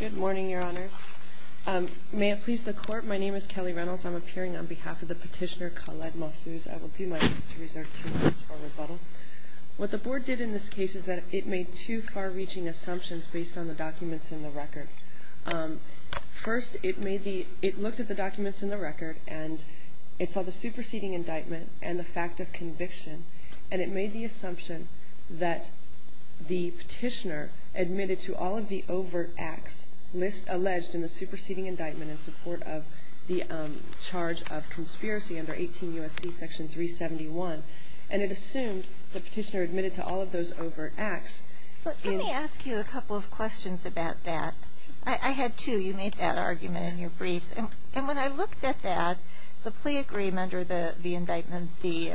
Good morning, your honors. May it please the court, my name is Kelly Reynolds. I'm appearing on behalf of the petitioner Khaled Malfouz. I will do my best to reserve two minutes for rebuttal. What the board did in this case is that it made two far-reaching assumptions based on the documents in the record. First, it looked at the documents in the record and it saw the superseding indictment and the fact of conviction, and it made the assumption that the petitioner admitted to all of the overt acts alleged in the superseding indictment in support of the charge of conspiracy under 18 U.S.C. section 371, and it assumed the petitioner admitted to all of those overt acts. Let me ask you a couple of questions about that. I had two. You made that argument in your briefs. And when I looked at that, the plea agreement or the indictment, the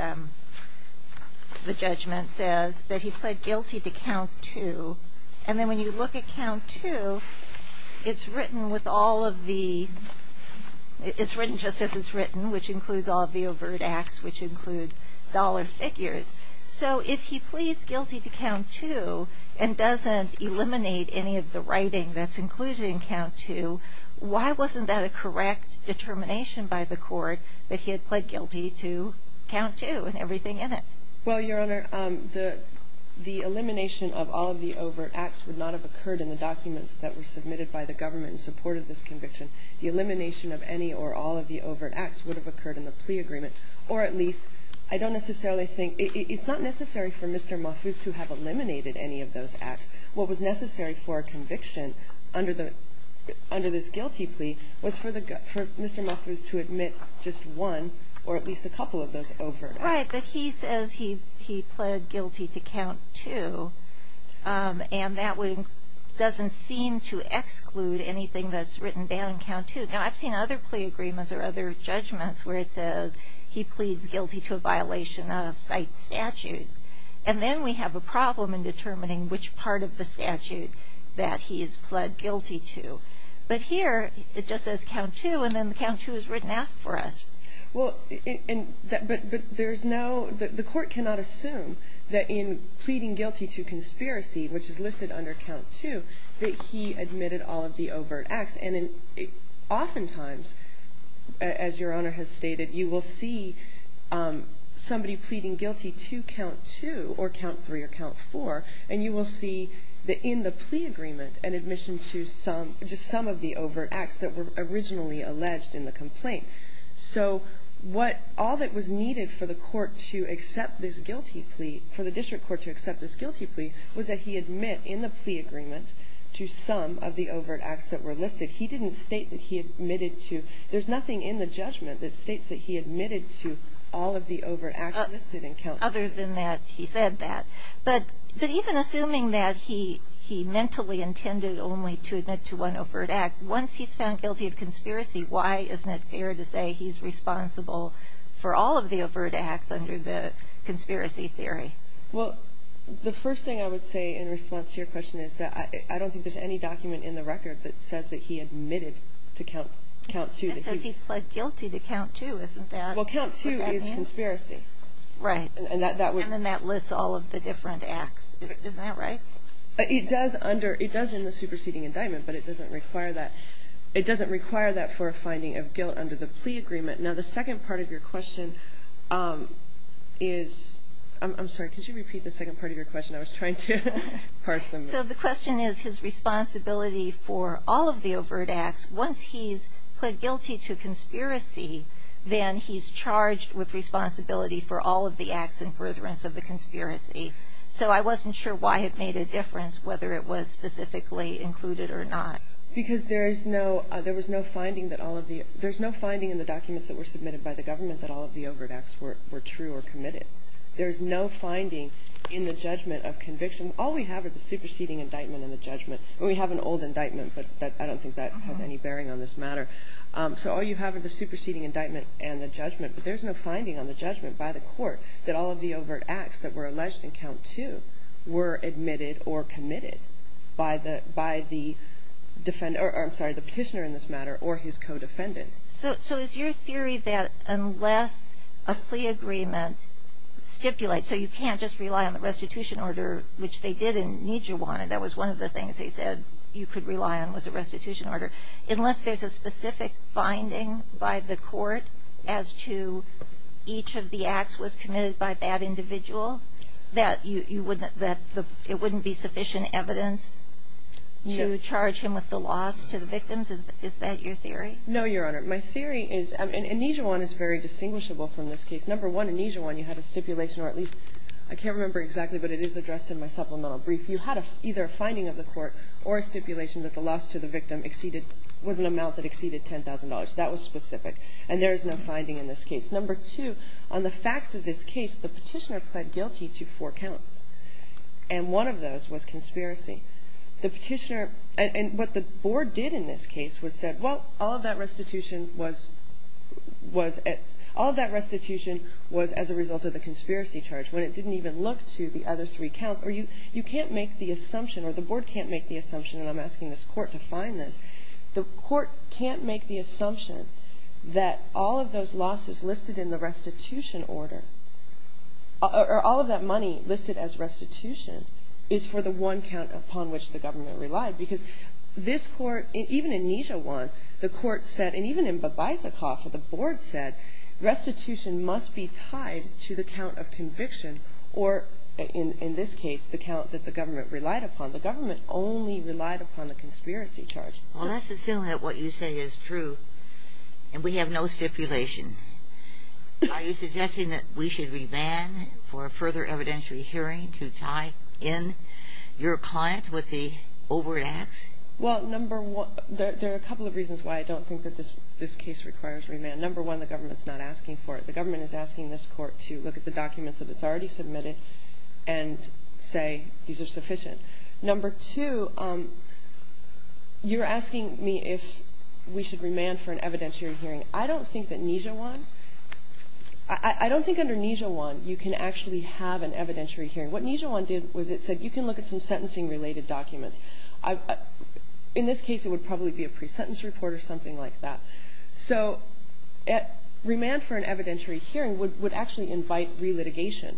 judgment says that he pled guilty to count two. And then when you look at count two, it's written just as it's written, which includes all of the overt acts, which includes dollar figures. So if he pleads guilty to count two and doesn't eliminate any of the writing that's included in count two, why wasn't that a correct determination by the court that he had pled guilty to count two and everything in it? Well, Your Honor, the elimination of all of the overt acts would not have occurred in the documents that were submitted by the government in support of this conviction. The elimination of any or all of the overt acts would have occurred in the plea agreement, or at least I don't necessarily think it's not necessary for Mr. Mofus to have eliminated any of those acts. What was necessary for a conviction under this guilty plea was for Mr. Mofus to admit just one or at least a couple of those overt acts. Right. But he says he pled guilty to count two. And that doesn't seem to exclude anything that's written down in count two. Now, I've seen other plea agreements or other judgments where it says he pleads guilty to a violation of site statute. And then we have a problem in determining which part of the statute that he has pled guilty to. But here it just says count two, and then count two is written out for us. Well, but there's no – the court cannot assume that in pleading guilty to conspiracy, which is listed under count two, that he admitted all of the overt acts. And oftentimes, as Your Honor has stated, you will see somebody pleading guilty to count two or count three or count four, and you will see in the plea agreement an admission to just some of the overt acts that were originally alleged in the complaint. So all that was needed for the court to accept this guilty plea, for the district court to accept this guilty plea, was that he admit in the plea agreement to some of the overt acts that were listed. He didn't state that he admitted to – there's nothing in the judgment that states that he admitted to all of the overt acts listed in count two. Other than that, he said that. But even assuming that he mentally intended only to admit to one overt act, once he's found guilty of conspiracy, why isn't it fair to say he's responsible for all of the overt acts under the conspiracy theory? Well, the first thing I would say in response to your question is that I don't think there's any document in the record that says that he admitted to count two. It says he pled guilty to count two, isn't that? Well, count two is conspiracy. Right. And then that lists all of the different acts. Isn't that right? It does under – it does in the superseding indictment, but it doesn't require that. It doesn't require that for a finding of guilt under the plea agreement. Now, the second part of your question is – I'm sorry, could you repeat the second part of your question? I was trying to parse them. So the question is his responsibility for all of the overt acts. Once he's pled guilty to conspiracy, then he's charged with responsibility for all of the acts and perjurance of the conspiracy. So I wasn't sure why it made a difference whether it was specifically included or not. Because there is no – there was no finding that all of the – there's no finding in the documents that were submitted by the government that all of the overt acts were true or committed. There's no finding in the judgment of conviction. All we have is the superseding indictment and the judgment. We have an old indictment, but I don't think that has any bearing on this matter. So all you have is the superseding indictment and the judgment, but there's no finding on the judgment by the court that all of the overt acts that were alleged in count two were admitted or committed by the defender – or, I'm sorry, the petitioner in this matter or his co-defendant. So is your theory that unless a plea agreement stipulates – so you can't just rely on the restitution order, which they did in Nijiwana. That was one of the things they said you could rely on was a restitution order. Unless there's a specific finding by the court as to each of the acts was committed by that individual, that it wouldn't be sufficient evidence to charge him with the loss to the victims? Is that your theory? No, Your Honor. My theory is – and Nijiwana is very distinguishable from this case. Number one, in Nijiwana you had a stipulation, or at least – I can't remember exactly, but it is addressed in my supplemental brief. You had either a finding of the court or a stipulation that the loss to the victim exceeded – was an amount that exceeded $10,000. That was specific, and there is no finding in this case. Number two, on the facts of this case, the petitioner pled guilty to four counts, and one of those was conspiracy. The petitioner – and what the board did in this case was said, well, all of that restitution was as a result of the conspiracy charge. When it didn't even look to the other three counts – or you can't make the assumption, or the board can't make the assumption, and I'm asking this court to find this. The court can't make the assumption that all of those losses listed in the restitution order, or all of that money listed as restitution, is for the one count upon which the government relied, because this court – even in Nijiwana, the court said, and even in Babaisakoffa, the board said, restitution must be tied to the count of conviction, or in this case, the count that the government relied upon. The government only relied upon the conspiracy charge. Well, let's assume that what you say is true, and we have no stipulation. Are you suggesting that we should remand for a further evidentiary hearing to tie in your client with the overt acts? Well, number one – there are a couple of reasons why I don't think that this case requires remand. Number one, the government's not asking for it. The government is asking this court to look at the documents that it's already submitted and say these are sufficient. Number two, you're asking me if we should remand for an evidentiary hearing. I don't think that Nijiwana – I don't think under Nijiwana you can actually have an evidentiary hearing. What Nijiwana did was it said you can look at some sentencing-related documents. In this case, it would probably be a pre-sentence report or something like that. So remand for an evidentiary hearing would actually invite relitigation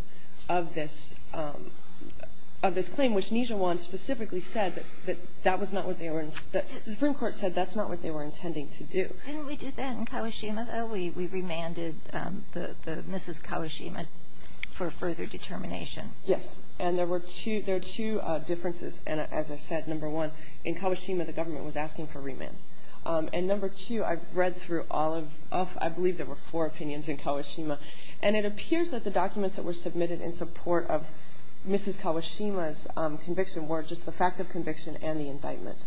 of this claim, which Nijiwana specifically said that that was not what they were – the Supreme Court said that's not what they were intending to do. Didn't we do that in Kawashima, though? We remanded Mrs. Kawashima for further determination. Yes, and there are two differences, as I said. Number one, in Kawashima the government was asking for remand. And number two, I've read through all of – I believe there were four opinions in Kawashima. And it appears that the documents that were submitted in support of Mrs. Kawashima's conviction were just the fact of conviction and the indictment.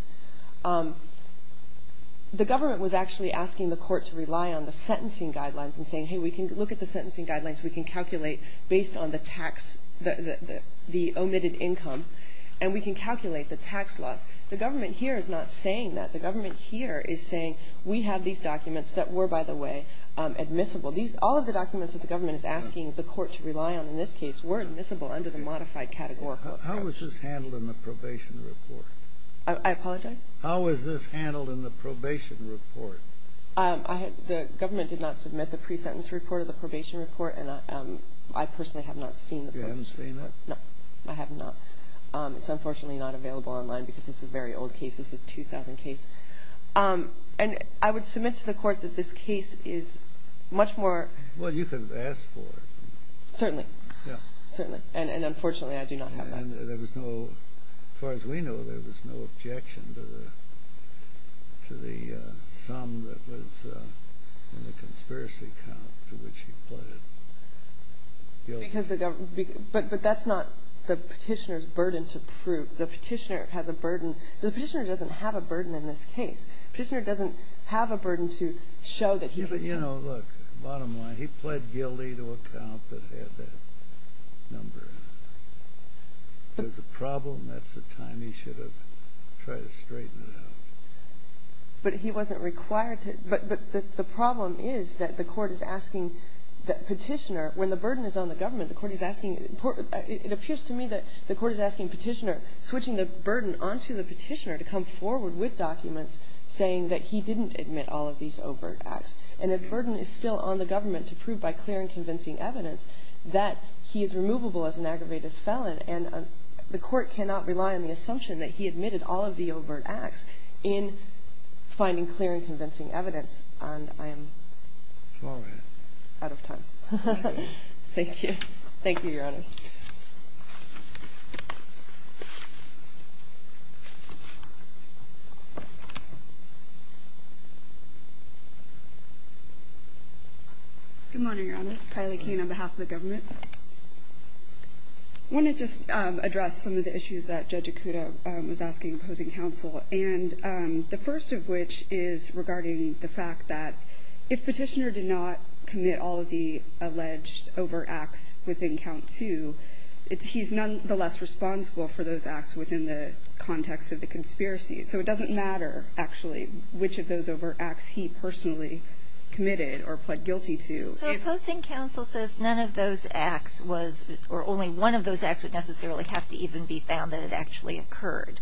The government was actually asking the court to rely on the sentencing guidelines and saying, hey, we can look at the sentencing guidelines, we can calculate based on the tax – the omitted income, and we can calculate the tax loss. The government here is not saying that. The government here is saying we have these documents that were, by the way, admissible. All of the documents that the government is asking the court to rely on in this case were admissible under the modified categorical. How was this handled in the probation report? I apologize? How was this handled in the probation report? The government did not submit the pre-sentence report or the probation report, and I personally have not seen the probation report. You haven't seen it? No, I have not. It's unfortunately not available online because this is a very old case. This is a 2000 case. And I would submit to the court that this case is much more – Well, you could have asked for it. Certainly. Yeah. Certainly. And unfortunately I do not have that. And there was no – as far as we know, there was no objection to the sum that was in the conspiracy count to which you pled guilty. But that's not the petitioner's burden to prove. The petitioner has a burden – The petitioner doesn't have a burden in this case. The petitioner doesn't have a burden to show that he could tell. Yeah, but, you know, look, bottom line, he pled guilty to a count that had that number. If there's a problem, that's the time he should have tried to straighten it out. But he wasn't required to – but the problem is that the court is asking the petitioner when the burden is on the government, the court is asking – it appears to me that the court is asking the petitioner, switching the burden onto the petitioner to come forward with documents saying that he didn't admit all of these overt acts. And the burden is still on the government to prove by clear and convincing evidence that he is removable as an aggravated felon. And the court cannot rely on the assumption that he admitted all of the overt acts in finding clear and convincing evidence. And I am out of time. Thank you. Thank you. Thank you, Your Honors. Thank you. Good morning, Your Honors. Kylie Kane on behalf of the government. I want to just address some of the issues that Judge Ikuda was asking opposing counsel, and the first of which is regarding the fact that if petitioner did not commit all of the alleged overt acts within count two, he's nonetheless responsible for those acts within the context of the conspiracy. So it doesn't matter, actually, which of those overt acts he personally committed or pled guilty to. So opposing counsel says none of those acts was – or only one of those acts would necessarily have to even be found that it actually occurred.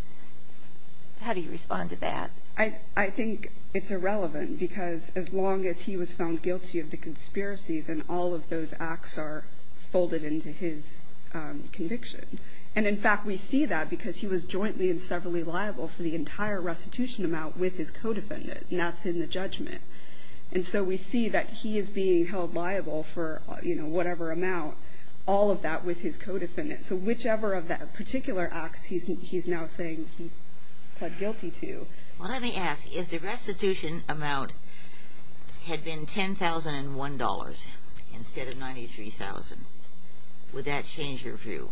How do you respond to that? I think it's irrelevant because as long as he was found guilty of the conspiracy, then all of those acts are folded into his conviction. And, in fact, we see that because he was jointly and severally liable for the entire restitution amount with his co-defendant, and that's in the judgment. And so we see that he is being held liable for whatever amount, all of that with his co-defendant. So whichever of the particular acts he's now saying he pled guilty to, Well, let me ask. If the restitution amount had been $10,001 instead of $93,000, would that change your view?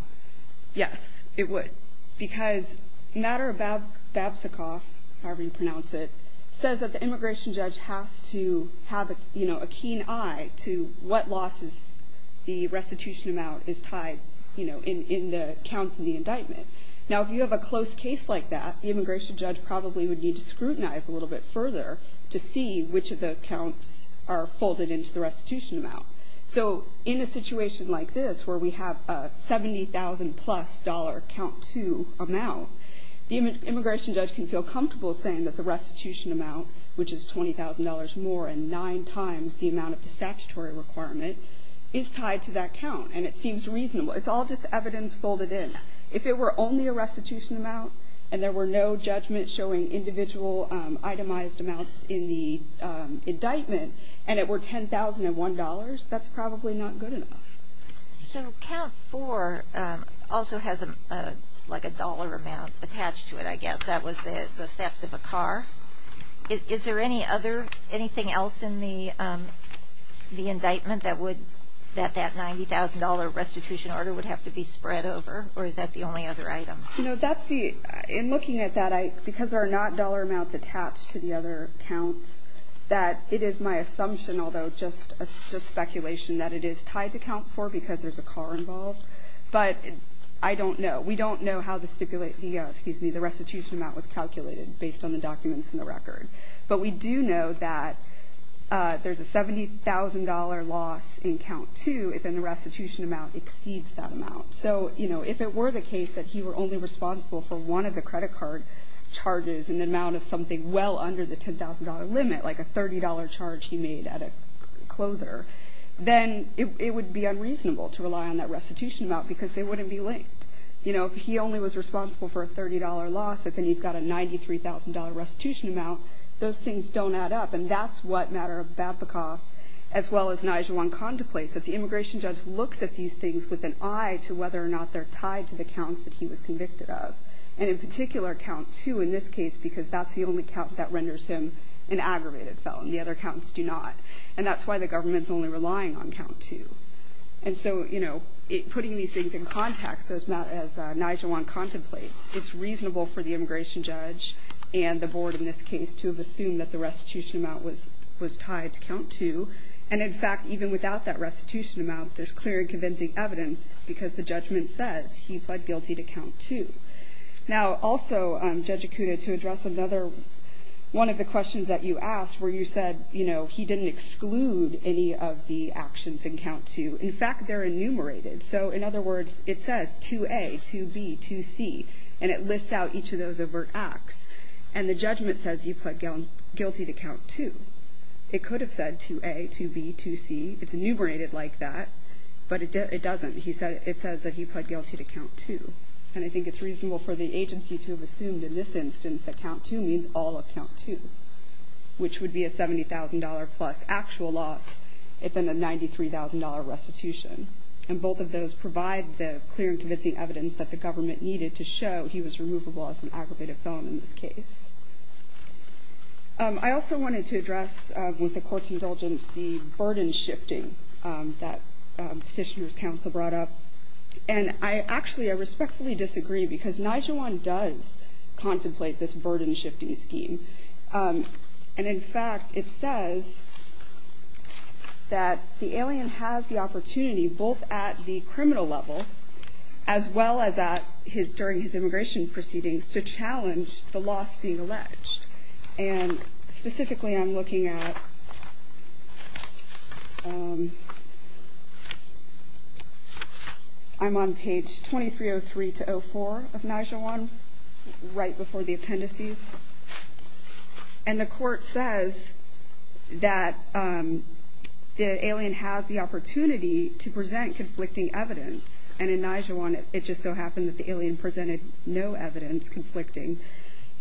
Yes, it would. Because Madara Babchikov, however you pronounce it, says that the immigration judge has to have a keen eye to what losses the restitution amount is tied in the counts in the indictment. Now, if you have a close case like that, the immigration judge probably would need to scrutinize a little bit further to see which of those counts are folded into the restitution amount. So in a situation like this where we have a $70,000-plus count-to amount, the immigration judge can feel comfortable saying that the restitution amount, which is $20,000 more and nine times the amount of the statutory requirement, is tied to that count, and it seems reasonable. It's all just evidence folded in. If it were only a restitution amount and there were no judgments showing individual itemized amounts in the indictment and it were $10,001, that's probably not good enough. So Count 4 also has a dollar amount attached to it, I guess. That was the theft of a car. Is there anything else in the indictment that that $90,000 restitution order would have to be spread over, or is that the only other item? You know, that's the ñ in looking at that, because there are not dollar amounts attached to the other counts, that it is my assumption, although just speculation, that it is tied to Count 4 because there's a car involved. But I don't know. We don't know how the restitution amount was calculated based on the documents in the record. But we do know that there's a $70,000 loss in Count 2 if the restitution amount exceeds that amount. So if it were the case that he were only responsible for one of the credit card charges in an amount of something well under the $10,000 limit, like a $30 charge he made at a clothier, then it would be unreasonable to rely on that restitution amount because they wouldn't be linked. If he only was responsible for a $30 loss, if he's got a $93,000 restitution amount, those things don't add up. And that's what Matter of Babcock, as well as Najuan, contemplates, that the immigration judge looks at these things with an eye to whether or not they're tied to the counts that he was convicted of, and in particular Count 2 in this case because that's the only count that renders him an aggravated felon. The other counts do not. And that's why the government's only relying on Count 2. And so putting these things in context, as Najuan contemplates, it's reasonable for the immigration judge and the board in this case to have assumed that the restitution amount was tied to Count 2. And, in fact, even without that restitution amount, there's clear and convincing evidence because the judgment says he pled guilty to Count 2. Now, also, Judge Acuna, to address another one of the questions that you asked where you said, you know, he didn't exclude any of the actions in Count 2. In fact, they're enumerated. So, in other words, it says 2A, 2B, 2C, and it lists out each of those overt acts. And the judgment says he pled guilty to Count 2. It could have said 2A, 2B, 2C. It's enumerated like that, but it doesn't. It says that he pled guilty to Count 2. And I think it's reasonable for the agency to have assumed, in this instance, that Count 2 means all of Count 2, which would be a $70,000-plus actual loss if in a $93,000 restitution. And both of those provide the clear and convincing evidence that the government needed to show he was removable as an aggravated felon in this case. I also wanted to address, with the Court's indulgence, the burden shifting that Petitioner's Counsel brought up. And, actually, I respectfully disagree, because Nijewan does contemplate this burden shifting scheme. And, in fact, it says that the alien has the opportunity, both at the criminal level as well as during his immigration proceedings, to challenge the loss being alleged. And, specifically, I'm looking at... I'm on page 2303-04 of Nijewan, right before the appendices. And the Court says that the alien has the opportunity to present conflicting evidence. And, in Nijewan, it just so happened that the alien presented no evidence conflicting,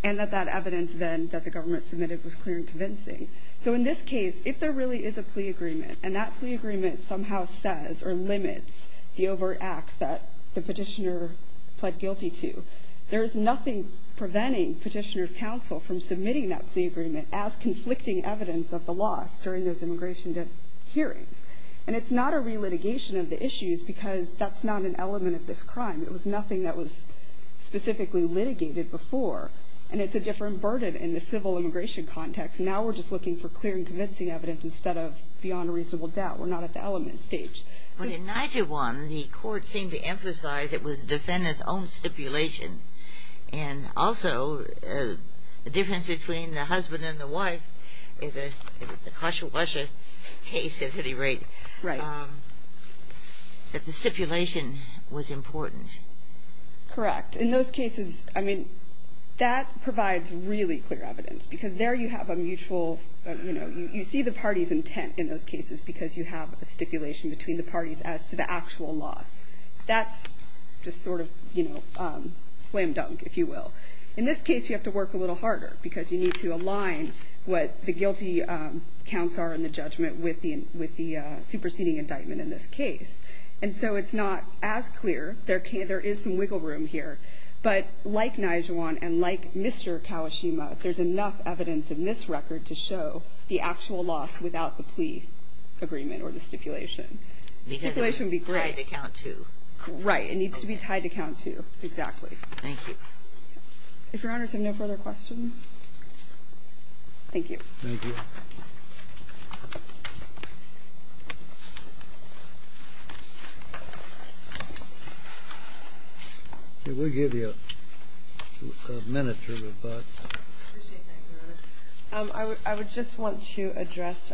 and that that evidence, then, that the government submitted was clear and convincing. So, in this case, if there really is a plea agreement, and that plea agreement somehow says or limits the overt acts that the Petitioner pled guilty to, there is nothing preventing Petitioner's Counsel from submitting that plea agreement as conflicting evidence of the loss during those immigration hearings. And it's not a re-litigation of the issues, because that's not an element of this crime. It was nothing that was specifically litigated before. And it's a different burden in the civil immigration context. Now we're just looking for clear and convincing evidence instead of beyond a reasonable doubt. We're not at the element stage. But, in Nijewan, the Court seemed to emphasize it was the defendant's own stipulation. And, also, the difference between the husband and the wife, in the Khashoggasha case at any rate, that the stipulation was important. Correct. In those cases, I mean, that provides really clear evidence. Because there you have a mutual, you know, you see the party's intent in those cases because you have a stipulation between the parties as to the actual loss. That's just sort of, you know, slam dunk, if you will. In this case, you have to work a little harder, because you need to align what the guilty counts are in the judgment with the superseding indictment in this case. And so it's not as clear. There is some wiggle room here. But, like Nijewan and like Mr. Kawashima, there's enough evidence in this record to show the actual loss without the plea agreement or the stipulation. Because it's tied to count two. Right. It needs to be tied to count two. Exactly. Thank you. If Your Honors have no further questions. Thank you. Thank you. We'll give you a minute to rebut. I would just want to address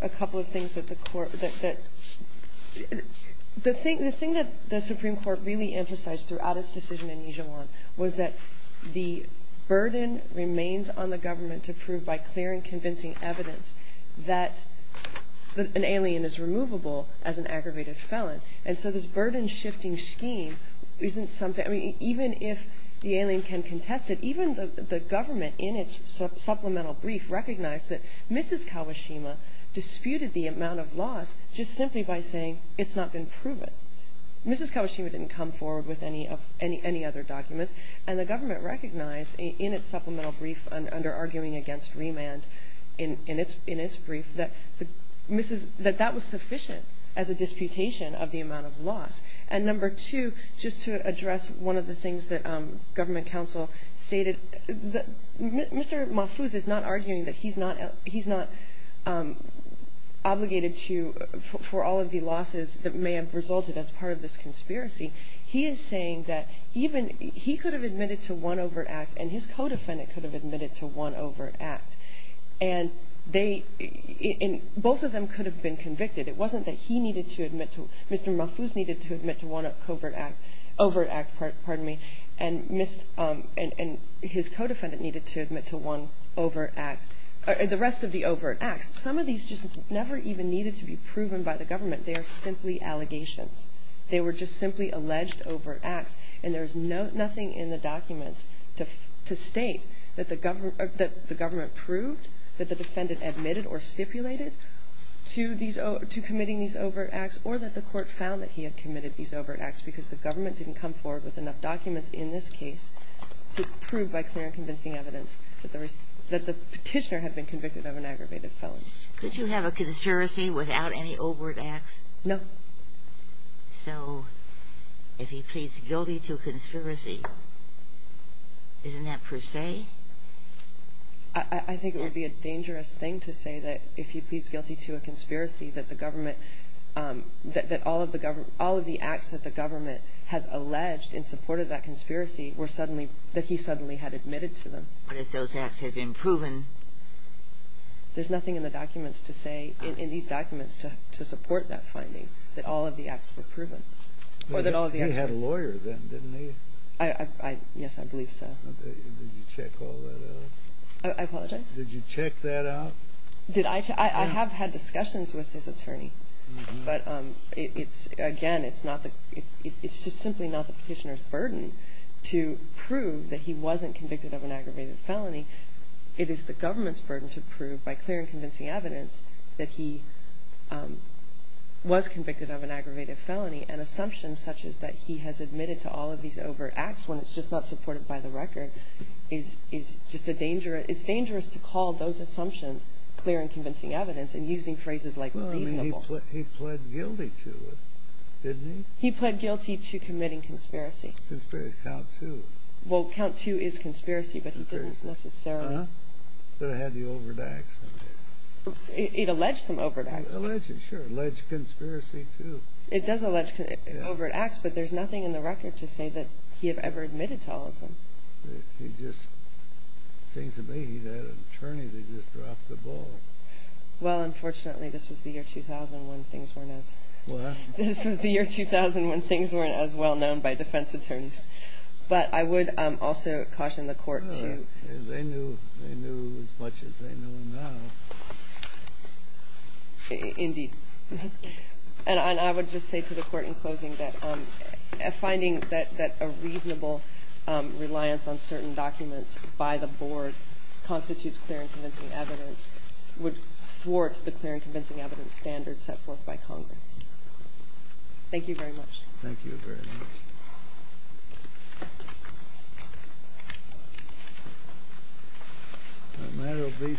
a couple of things that the Court that the thing that the Supreme Court really emphasized throughout its decision in Nijewan was that the burden remains on the government to prove by clear and convincing evidence that an alien is removable as an aggravated felon. And so this burden shifting scheme isn't something, I mean, even if the alien can contest it, even the government in its supplemental brief recognized that Mrs. Kawashima disputed the amount of loss just simply by saying it's not been proven. Mrs. Kawashima didn't come forward with any other documents. And the government recognized in its supplemental brief under arguing against remand, in its brief, that that was sufficient as a disputation of the amount of loss. And number two, just to address one of the things that government counsel stated, Mr. Mahfouz is not arguing that he's not obligated to, for all of the losses that may have resulted as part of this conspiracy. He is saying that even he could have admitted to one overt act and his co-defendant could have admitted to one overt act. And they, both of them could have been convicted. It wasn't that he needed to admit to, Mr. Mahfouz needed to admit to one covert act, and his co-defendant needed to admit to one overt act, the rest of the overt acts. Some of these just never even needed to be proven by the government. They are simply allegations. They were just simply alleged overt acts. And there's nothing in the documents to state that the government proved that the defendant admitted or stipulated to committing these overt acts or that the court found that he had committed these overt acts because the government didn't come forward with enough documents in this case to prove by clear and convincing evidence that the petitioner had been convicted of an aggravated felony. Could you have a conspiracy without any overt acts? No. So if he pleads guilty to a conspiracy, isn't that per se? I think it would be a dangerous thing to say that if he pleads guilty to a conspiracy, that the government, that all of the acts that the government has alleged in support of that conspiracy were suddenly, that he suddenly had admitted to them. But if those acts had been proven? There's nothing in the documents to say, in these documents to support that finding, that all of the acts were proven. He had a lawyer then, didn't he? Yes, I believe so. Did you check all that out? I apologize? Did you check that out? I have had discussions with his attorney. But again, it's just simply not the petitioner's burden to prove that he wasn't convicted of an aggravated felony. It is the government's burden to prove by clear and convincing evidence that he was convicted of an aggravated felony. And assumptions such as that he has admitted to all of these overt acts when it's just not supported by the record is just a danger. It's dangerous to call those assumptions clear and convincing evidence and using phrases like reasonable. Well, I mean, he pled guilty to it, didn't he? He pled guilty to committing conspiracy. Conspiracy, count two. Well, count two is conspiracy, but he didn't necessarily. But it had the overt acts on it. It alleged some overt acts. It alleged, sure, alleged conspiracy too. It does allege overt acts, but there's nothing in the record to say that he had ever admitted to all of them. He just seems to be that attorney that just dropped the ball. Well, unfortunately, this was the year 2000 when things weren't as well known by defense attorneys. But I would also caution the Court to – They knew as much as they know now. Indeed. And I would just say to the Court in closing that finding that a reasonable reliance on certain documents by the Board constitutes clear and convincing evidence would thwart the clear and convincing evidence standards set forth by Congress. Thank you very much. Thank you very much. The matter will be submitted.